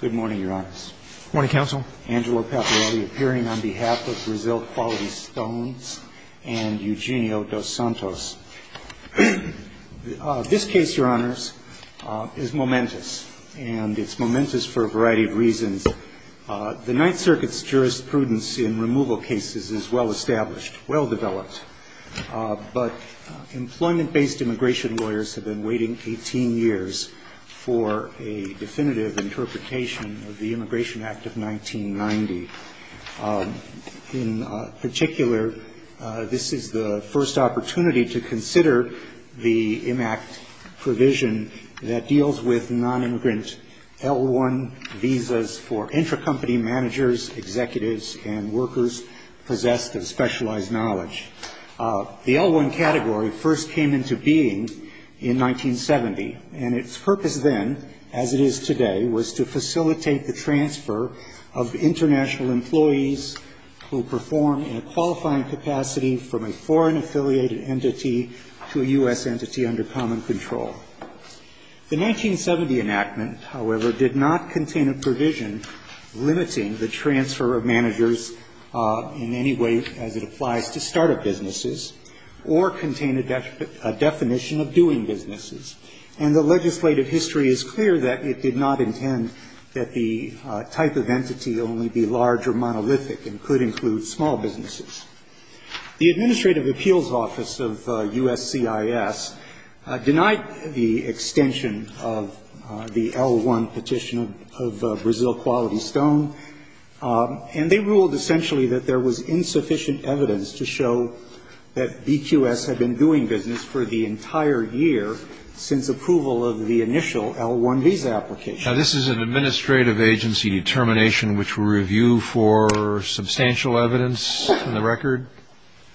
Good morning, your honors. Good morning, counsel. Angelo Paparelli appearing on behalf of Brazil Quality Stones and Eugenio dos Santos. This case, your honors, is momentous, and it's momentous for a variety of reasons. The Ninth Circuit's jurisprudence in removal cases is well established, well developed. But employment-based immigration lawyers have been waiting 18 years for a definitive interpretation of the Immigration Act of 1990. In particular, this is the first opportunity to consider the IMACT provision that deals with non-immigrant L-1 visas for intracompany managers, executives, and workers possessed of specialized knowledge. The L-1 category first came into being in 1970, and its purpose then, as it is today, was to facilitate the transfer of international employees who perform in a qualifying capacity from a foreign-affiliated entity to a U.S. entity under common control. The 1970 enactment, however, did not contain a provision limiting the transfer of managers in any way as it applies to startup businesses or contain a definition of doing businesses. And the legislative history is clear that it did not intend that the type of entity only be large or monolithic and could include small businesses. The Administrative Appeals Office of USCIS denied the extension of the L-1 petition of Brazil Quality Stone, and they ruled essentially that there was insufficient evidence to show that BQS had been doing business for the entire year since approval of the initial L-1 visa application. Now, this is an administrative agency determination which will review for substantial evidence in the record?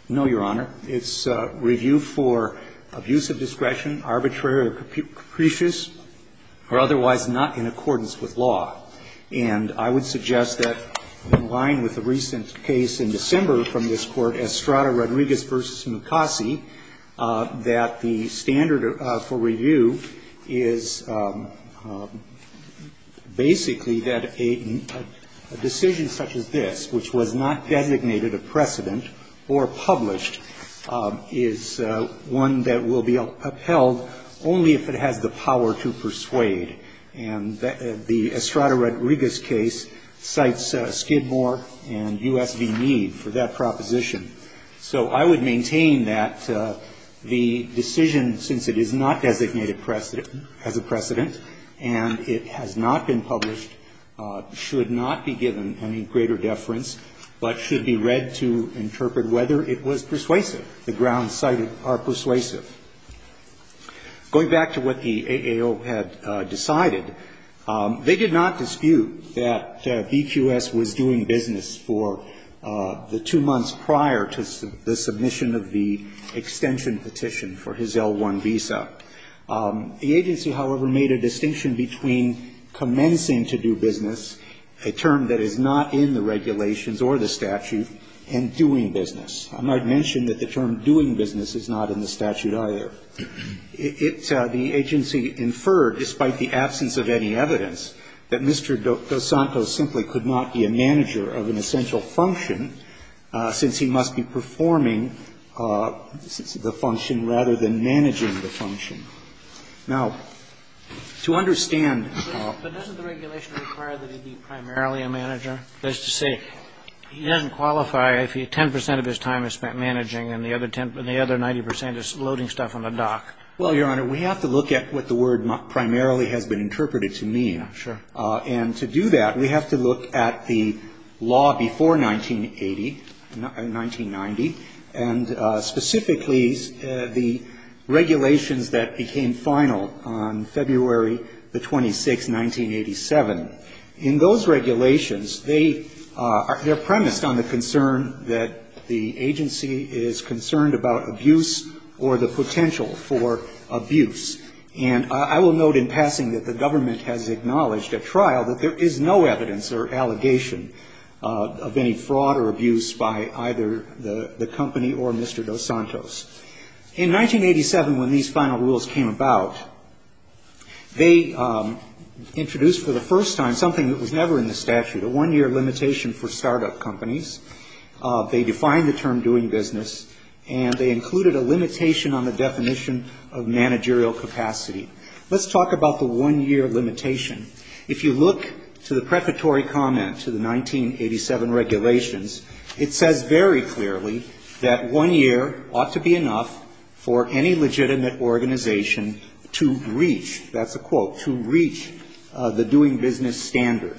No, Your Honor. It's review for abuse of discretion, arbitrary or capricious, or otherwise not in accordance with law. And I would suggest that in line with the recent case in December from this Court, Estrada-Rodriguez v. Skidmore, basically that a decision such as this, which was not designated a precedent or published, is one that will be upheld only if it has the power to persuade. And the Estrada-Rodriguez case cites Skidmore and U.S. v. Meade for that proposition. So I would maintain that the decision, since it is not designated as a precedent and it has not been published, should not be given any greater deference, but should be read to interpret whether it was persuasive, the grounds cited are persuasive. Going back to what the AAO had decided, they did not dispute that BQS was doing business for the two months prior to the submission of the extension petition for his L-1 visa. The agency, however, made a distinction between commencing to do business, a term that is not in the regulations or the statute, and doing business. I might mention that the term doing business is not in the statute either. It the agency inferred, despite the absence of any evidence, that Mr. Dos Santos simply could not be a manager of an essential function since he must be performing the function rather than managing the function. Now, to understand the law. But doesn't the regulation require that he be primarily a manager? That is to say, he doesn't qualify if 10 percent of his time is spent managing and the other 90 percent is loading stuff on a dock. Well, Your Honor, we have to look at what the word primarily has been interpreted to mean. Sure. And to do that, we have to look at the law before 1980, 1990, and specifically the regulations that became final on February the 26th, 1987. In those regulations, they are premised on the concern that the agency is concerned and I will note in passing that the government has acknowledged at trial that there is no evidence or allegation of any fraud or abuse by either the company or Mr. Dos Santos. In 1987, when these final rules came about, they introduced for the first time something that was never in the statute, a one-year limitation for startup companies. They defined the term doing business and they included a limitation on the definition of managerial capacity. Let's talk about the one-year limitation. If you look to the prefatory comment to the 1987 regulations, it says very clearly that one year ought to be enough for any legitimate organization to reach, that's a quote, to reach the doing business standard.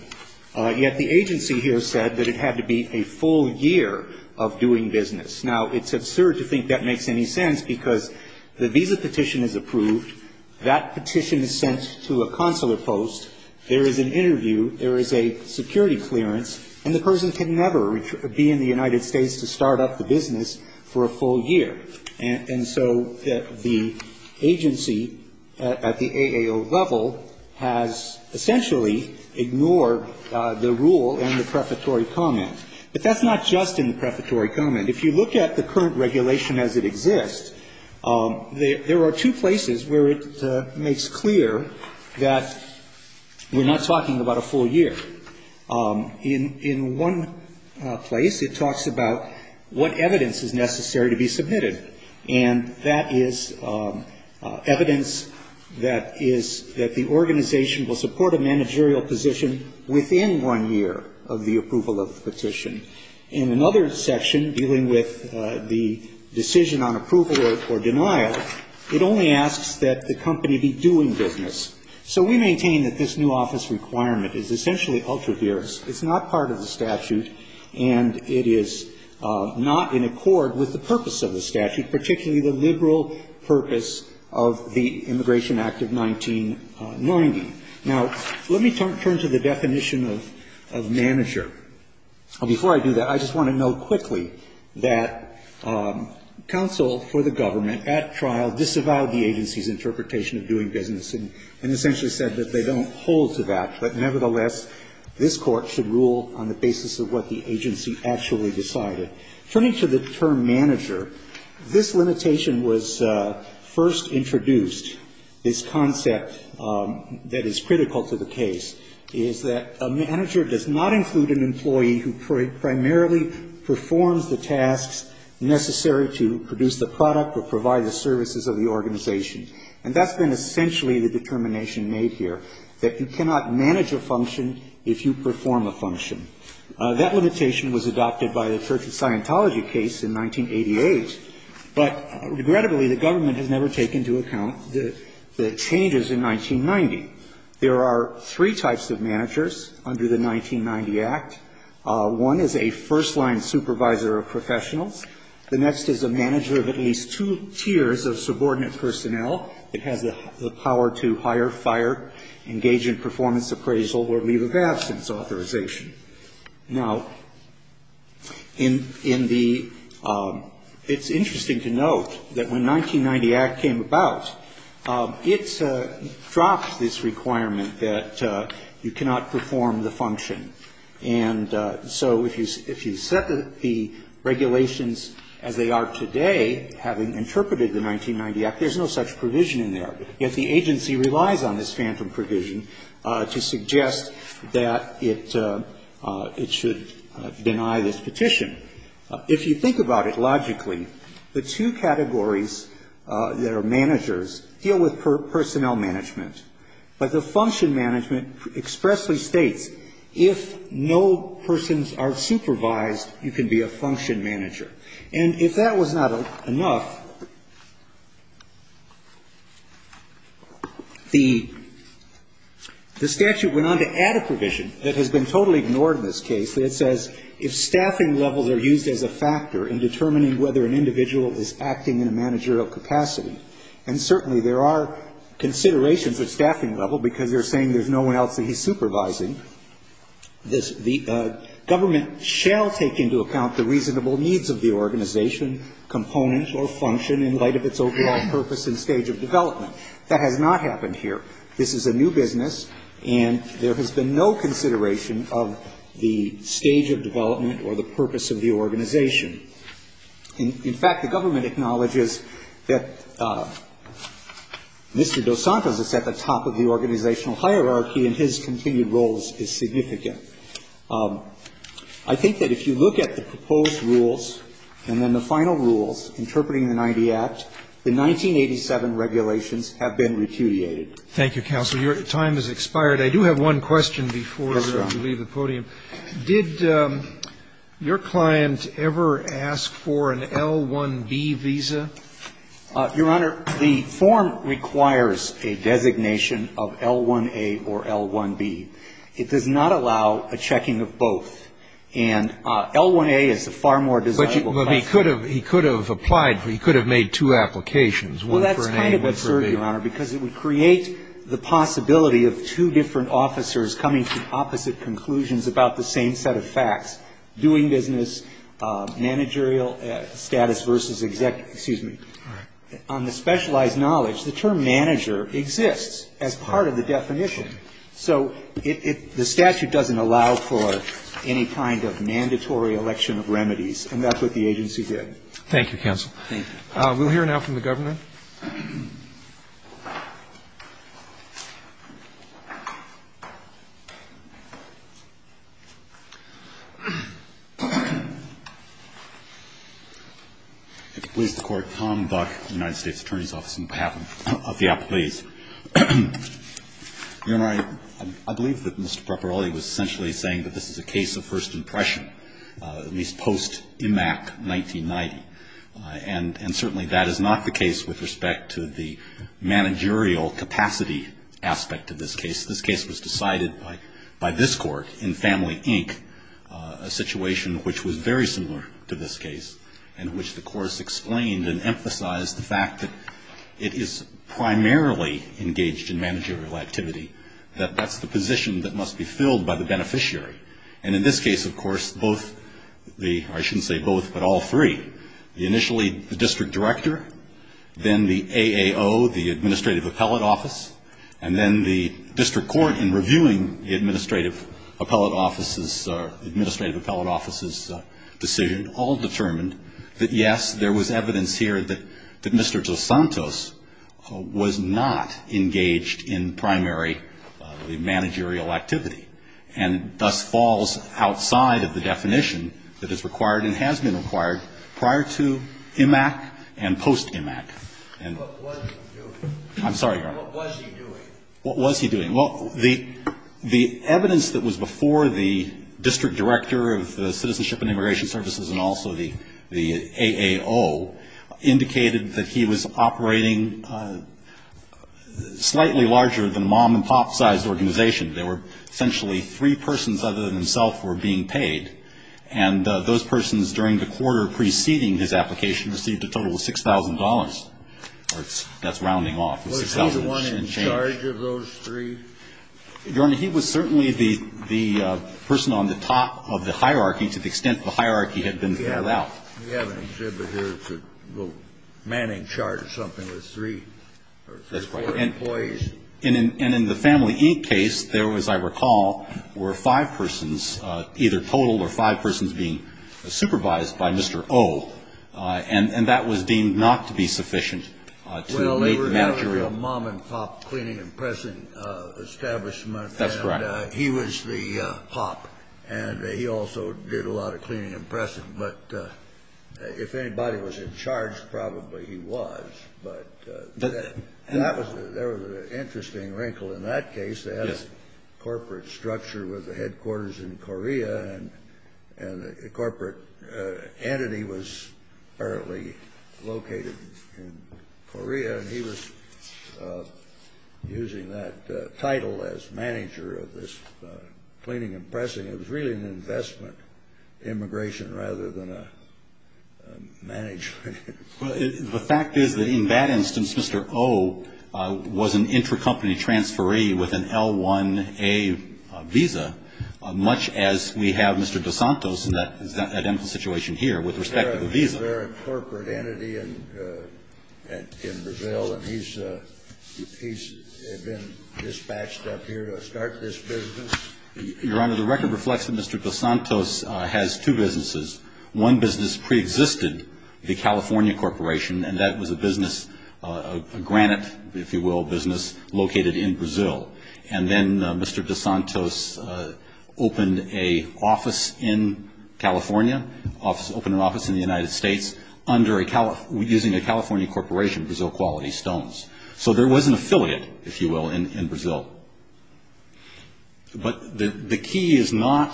Yet the agency here said that it had to be a full year of doing business. Now, it's absurd to think that makes any sense because the visa petition is approved, that petition is sent to a consular post, there is an interview, there is a security clearance, and the person can never be in the United States to start up the business for a full year. And so the agency at the AAO level has essentially ignored the rule and the prefatory comment. But that's not just in the prefatory comment. If you look at the current regulation as it exists, there are two places where it makes clear that we're not talking about a full year. In one place, it talks about what evidence is necessary to be submitted. And that is evidence that is, that the organization will support a managerial position in another section dealing with the decision on approval or denial. It only asks that the company be doing business. So we maintain that this new office requirement is essentially ultra-virus. It's not part of the statute and it is not in accord with the purpose of the statute, particularly the liberal purpose of the Immigration Act of 1990. Now, let me turn to the definition of manager. Before I do that, I just want to note quickly that counsel for the government at trial disavowed the agency's interpretation of doing business and essentially said that they don't hold to that. But nevertheless, this Court should rule on the basis of what the agency actually decided. Turning to the term manager, this limitation was first introduced, this concept that is critical to the case, is that a manager does not include an employee who primarily performs the tasks necessary to produce the product or provide the services of the organization. And that's been essentially the determination made here, that you cannot manage a function if you perform a function. That limitation was adopted by the Church of Scientology case in 1988. But regrettably, the government has never taken into account the changes in 1990. There are three types of managers under the 1990 Act. One is a first-line supervisor of professionals. The next is a manager of at least two tiers of subordinate personnel. It has the power to hire, fire, engage in performance appraisal or leave of absence authorization. Now, in the ‑‑ it's interesting to note that when 1990 Act came about, it dropped this requirement that you cannot perform the function. And so if you set the regulations as they are today, having interpreted the 1990 Act, there's no such provision in there. Yet the agency relies on this phantom provision to suggest that it should deny this petition. If you think about it logically, the two categories that are managers deal with personnel management. But the function management expressly states, if no persons are supervised, you can be a function manager. And if that was not enough, the statute went on to add a provision that has been totally ignored in this case that says if staffing levels are used as a factor in determining whether an individual is acting in a managerial capacity, and certainly there are considerations at staffing level because they're saying there's no one else that he's component or function in light of its overall purpose and stage of development. That has not happened here. This is a new business, and there has been no consideration of the stage of development or the purpose of the organization. In fact, the government acknowledges that Mr. Dos Santos is at the top of the organizational hierarchy, and his continued role is significant. I think that if you look at the proposed rules and then the final rules interpreting the 90 Act, the 1987 regulations have been repudiated. Thank you, counsel. Your time has expired. I do have one question before we leave the podium. Yes, Your Honor. Did your client ever ask for an L-1B visa? Your Honor, the form requires a designation of L-1A or L-1B. It does not allow a checking of both. And L-1A is a far more desirable option. But he could have applied, he could have made two applications, one for an A and one for a B. Well, that's kind of absurd, Your Honor, because it would create the possibility of two different officers coming to opposite conclusions about the same set of facts, doing business, managerial status versus executive, excuse me. All right. On the specialized knowledge, the term manager exists as part of the definition. So the statute doesn't allow for any kind of mandatory election of remedies, and that's what the agency did. Thank you, counsel. Thank you. We'll hear now from the government. If it please the Court, Tom Buck, United States Attorney's Office on behalf of the Your Honor, I believe that Mr. Properoli was essentially saying that this is a case of first impression, at least post-IMAC 1990. And certainly that is not the case with respect to the managerial capacity aspect of this case. This case was decided by this Court in Family, Inc., a situation which was very similar to this case in which the Court explained and emphasized the fact that it is primarily engaged in managerial activity, that that's the position that must be filled by the beneficiary. And in this case, of course, both the or I shouldn't say both, but all three, initially the district director, then the AAO, the Administrative Appellate Office, and then the district court in reviewing the Administrative Appellate Office's decision all determined that, yes, there was evidence here that Mr. DeSantos was not engaged in primary managerial activity and thus falls outside of the definition that is required and has been required prior to IMAC and post-IMAC. What was he doing? I'm sorry, Your Honor. What was he doing? What was he doing? Well, the evidence that was before the district director of the Citizenship and Immigration Services and also the AAO indicated that he was operating slightly larger than a mom-and-pop sized organization. There were essentially three persons other than himself were being paid, and those persons during the quarter preceding his application received a total of $6,000. That's rounding off the $6,000. Was he the only one in charge of those three? Your Honor, he was certainly the person on the top of the hierarchy to the extent the hierarchy had been filled out. We have an exhibit here. It's a little manning chart or something with three or four employees. That's right. And in the Family Inc. case, there was, I recall, were five persons, either total or five persons being supervised by Mr. O, and that was deemed not to be sufficient to make the managerial. He was the mom-and-pop cleaning and pressing establishment. That's correct. He was the pop, and he also did a lot of cleaning and pressing. But if anybody was in charge, probably he was. But there was an interesting wrinkle in that case. They had a corporate structure with the headquarters in Korea, and the corporate entity was apparently located in Korea. And he was using that title as manager of this cleaning and pressing. It was really an investment immigration rather than a management. Well, the fact is that in that instance, Mr. O was an intercompany transferee with an L-1A visa, much as we have Mr. DeSantos in that identical situation here with respect to the visa. Was there a corporate entity in Brazil, and he's been dispatched up here to start this business? Your Honor, the record reflects that Mr. DeSantos has two businesses. One business preexisted, the California Corporation, and that was a business, a granite, if you will, business, located in Brazil. And then Mr. DeSantos opened a office in California, opened an office in the United States, using a California corporation, Brazil Quality Stones. So there was an affiliate, if you will, in Brazil. But the key is not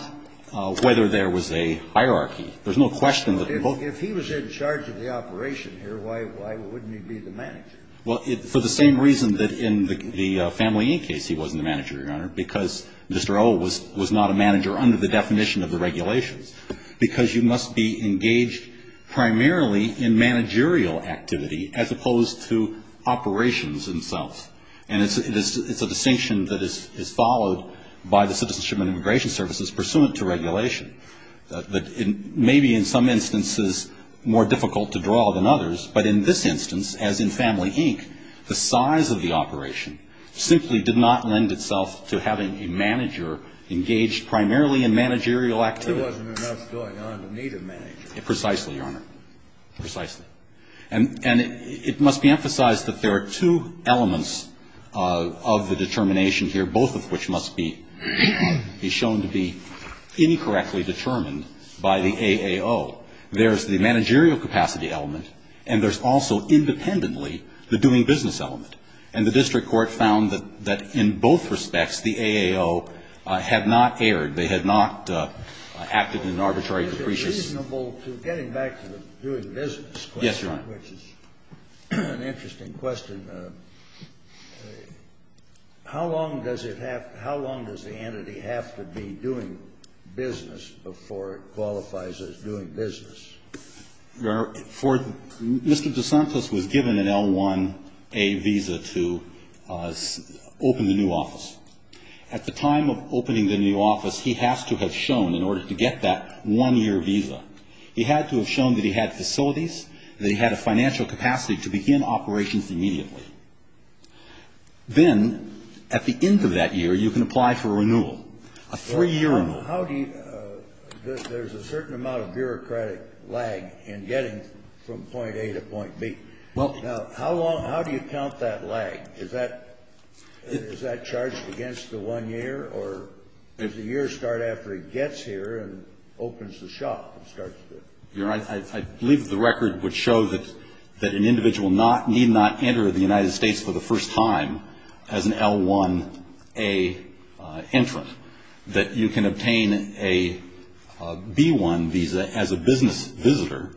whether there was a hierarchy. There's no question that he was. If he was in charge of the operation here, why wouldn't he be the manager? Well, for the same reason that in the Family Inc. case he wasn't the manager, Your Honor, because Mr. O was not a manager under the definition of the regulations, because you must be engaged primarily in managerial activity as opposed to operations themselves. And it's a distinction that is followed by the Citizenship and Immigration Services pursuant to regulation. Maybe in some instances more difficult to draw than others, but in this instance, as in Family Inc., the size of the operation simply did not lend itself to having a manager engaged primarily in managerial activity. There wasn't enough going on to need a manager. Precisely, Your Honor. Precisely. And it must be emphasized that there are two elements of the determination here, both of which must be shown to be incorrectly determined by the AAO. There's the managerial capacity element, and there's also independently the doing business element. And the district court found that in both respects the AAO had not erred. They had not acted in an arbitrary capricious. It's reasonable to get him back to the doing business question. Yes, Your Honor. Which is an interesting question. How long does the entity have to be doing business before it qualifies as doing business? Your Honor, Mr. DeSantis was given an L-1A visa to open the new office. At the time of opening the new office, he has to have shown, in order to get that one-year visa, he had to have shown that he had facilities, that he had a financial capacity to begin operations immediately. Then, at the end of that year, you can apply for a renewal, a three-year renewal. There's a certain amount of bureaucratic lag in getting from point A to point B. How do you count that lag? Is that charged against the one-year, or does the year start after he gets here and opens the shop? I believe the record would show that an individual need not enter the United States for the first time as an L-1A entrant. That you can obtain a B-1 visa as a business visitor,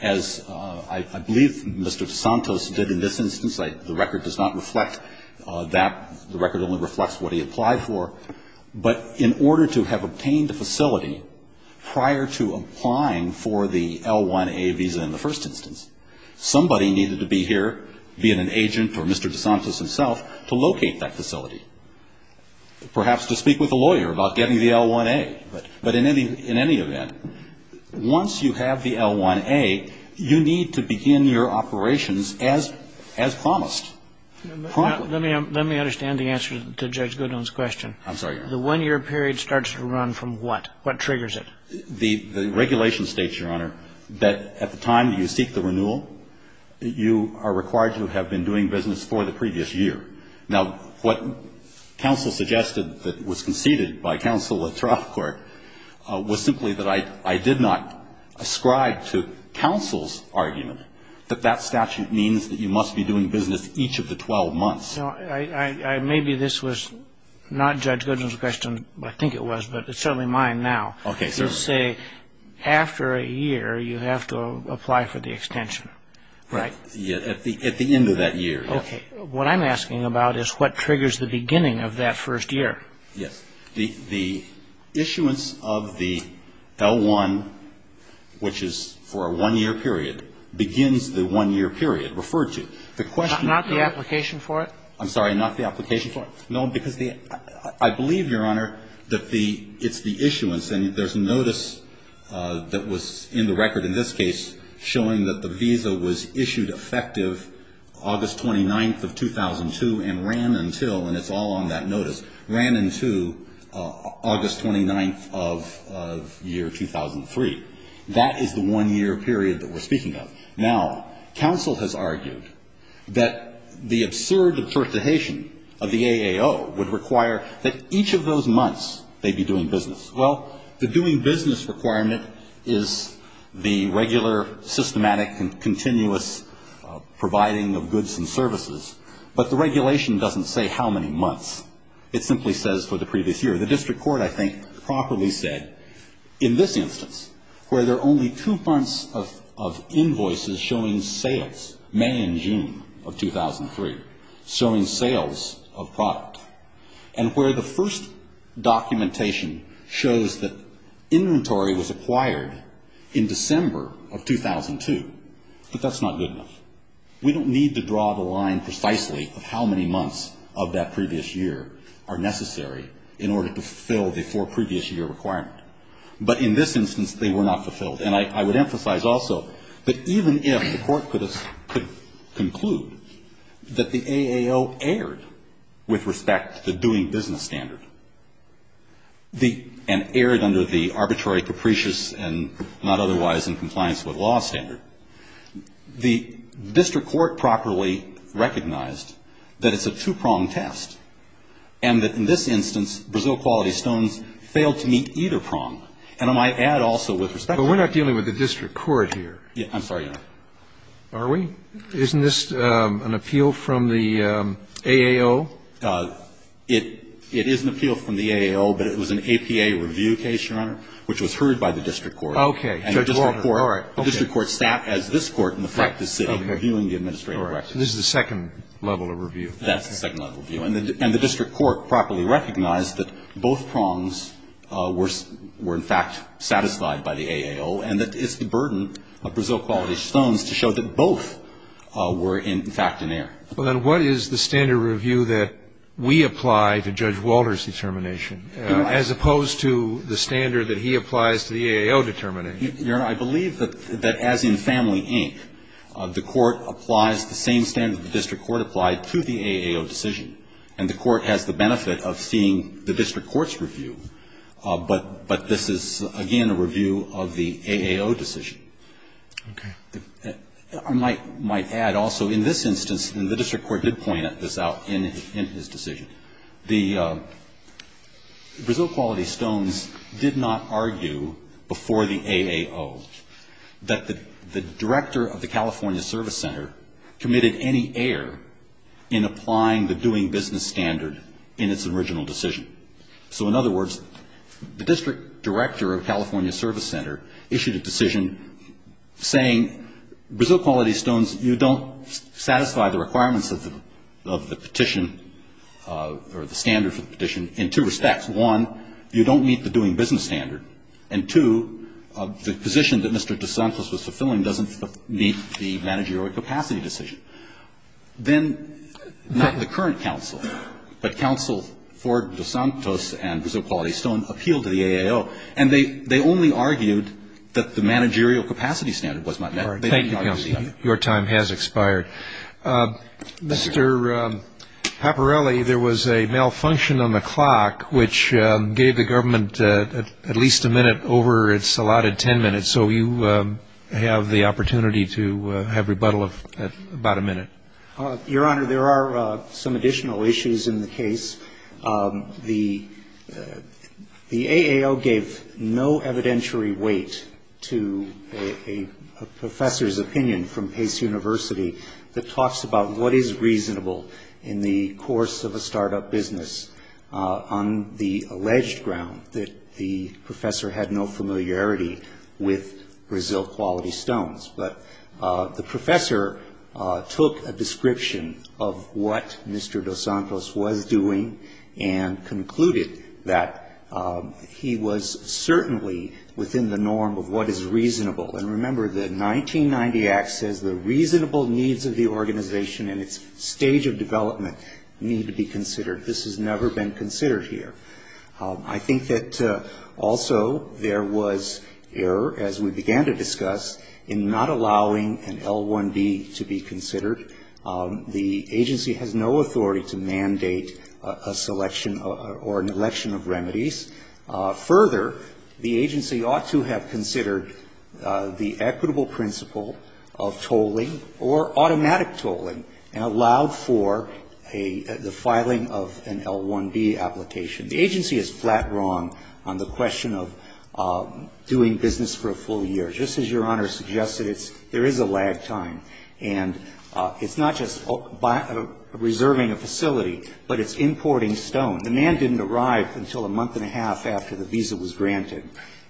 as I believe Mr. DeSantis did in this instance. The record does not reflect that. The record only reflects what he applied for. But in order to have obtained a facility prior to applying for the L-1A visa in the first instance, somebody needed to be here, be it an agent or Mr. DeSantis himself, to locate that facility. Perhaps to speak with a lawyer about getting the L-1A. But in any event, once you have the L-1A, you need to begin your operations as promised. Let me understand the answer to Judge Goodwin's question. I'm sorry, Your Honor. The one-year period starts to run from what? What triggers it? The regulation states, Your Honor, that at the time you seek the renewal, you are required to have been doing business for the previous year. Now, what counsel suggested that was conceded by counsel at trial court was simply that I did not ascribe to counsel's argument that that statute means that you must be doing business each of the 12 months. No. Maybe this was not Judge Goodwin's question. I think it was. But it's certainly mine now. Okay. You say after a year, you have to apply for the extension. Right. At the end of that year. Okay. What I'm asking about is what triggers the beginning of that first year. Yes. The issuance of the L-1, which is for a one-year period, begins the one-year period referred to. Not the application for it? I'm sorry. Not the application for it. No, because I believe, Your Honor, that it's the issuance. And there's a notice that was in the record in this case showing that the visa was issued effective August 29th of 2002 and ran until, and it's all on that notice, ran until August 29th of year 2003. That is the one-year period that we're speaking of. Now, counsel has argued that the absurd observation of the AAO would require that each of those months they be doing business. Well, the doing business requirement is the regular, systematic, and continuous providing of goods and services. But the regulation doesn't say how many months. It simply says for the previous year. The district court, I think, properly said, in this instance, where there are only two months of invoices showing sales, May and June of 2003, showing sales of product, and where the first documentation shows that inventory was acquired in December of 2002, but that's not good enough. We don't need to draw the line precisely of how many months of that previous year are necessary in order to fulfill the four-previous-year requirement. But in this instance, they were not fulfilled. And I would emphasize also that even if the court could conclude that the AAO erred with respect to doing business standard and erred under the arbitrary, capricious, and not otherwise in compliance with law standard, the district court properly recognized that it's a two-pronged test, and that in this instance, Brazil Quality Stones failed to meet either prong. And I might add also with respect to the AAO. But we're not dealing with the district court here. I'm sorry, Your Honor. Are we? Isn't this an appeal from the AAO? It is an appeal from the AAO, but it was an APA review case, Your Honor, which was heard by the district court. Okay. Judge Walton, all right. The district court sat as this court in the practice of reviewing the administrative questions. All right. This is the second level of review. That's the second level of review. And the district court properly recognized that both prongs were in fact satisfied by the AAO, and that it's the burden of Brazil Quality Stones to show that both were in fact in error. Well, then what is the standard review that we apply to Judge Walter's determination, as opposed to the standard that he applies to the AAO determination? Your Honor, I believe that as in Family Inc., the court applies the same standard the district court applied to the AAO decision. And the court has the benefit of seeing the district court's review, but this is, again, a review of the AAO decision. Okay. I might add also in this instance, and the district court did point this out in his decision, the Brazil Quality Stones did not argue before the AAO that the director of the California Service Center committed any error in applying the doing business standard in its original decision. So, in other words, the district director of California Service Center issued a decision saying Brazil Quality Stones, you don't satisfy the requirements of the petition or the standard for the petition in two respects. One, you don't meet the doing business standard. And two, the position that Mr. DeSantis was fulfilling doesn't meet the managerial capacity decision. Then, not in the current counsel, but counsel for DeSantis and Brazil Quality Stones appealed to the AAO, and they only argued that the managerial capacity standard was not met. Thank you, counsel. Your time has expired. Mr. Paparelli, there was a malfunction on the clock, which gave the government at least a minute over its allotted ten minutes. So you have the opportunity to have rebuttal of about a minute. Your Honor, there are some additional issues in the case. The AAO gave no evidentiary weight to a professor's opinion from Pace University that talks about what is reasonable in the course of a start-up business on the alleged ground that the professor had no familiarity with the standard. And the AAO did not have any familiarity with Brazil Quality Stones. But the professor took a description of what Mr. DeSantis was doing and concluded that he was certainly within the norm of what is reasonable. And remember, the 1990 Act says the reasonable needs of the organization and its stage of development need to be considered. This has never been considered here. I think that also there was error, as we began to discuss, in not allowing an L1B to be considered. The agency has no authority to mandate a selection or an election of remedies. Further, the agency ought to have considered the equitable principle of tolling or automatic tolling and allowed for the filing of an L1B application. The agency is flat wrong on the question of doing business for a full year. Just as Your Honor suggested, there is a lag time. And it's not just reserving a facility, but it's importing stone. The man didn't arrive until a month and a half after the visa was granted.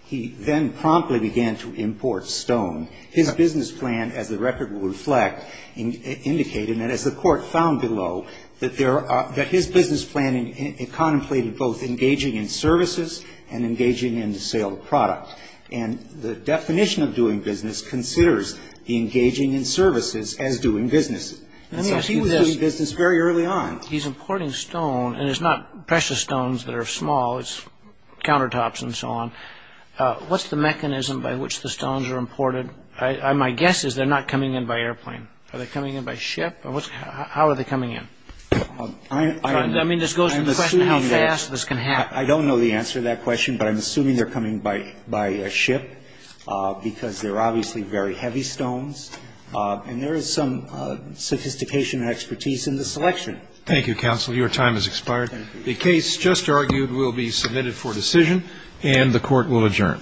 He then promptly began to import stone. His business plan, as the record will reflect, indicated, and as the Court found below, that his business plan contemplated both engaging in services and engaging in the sale of product. And the definition of doing business considers engaging in services as doing business. And so he was doing business very early on. He's importing stone, and it's not precious stones that are small. It's countertops and so on. What's the mechanism by which the stones are imported? My guess is they're not coming in by airplane. Are they coming in by ship? How are they coming in? I mean, this goes to the question of how fast this can happen. I don't know the answer to that question, but I'm assuming they're coming by a ship because they're obviously very heavy stones. And there is some sophistication and expertise in the selection. Thank you, counsel. Your time has expired. The case just argued will be submitted for decision, and the Court will adjourn.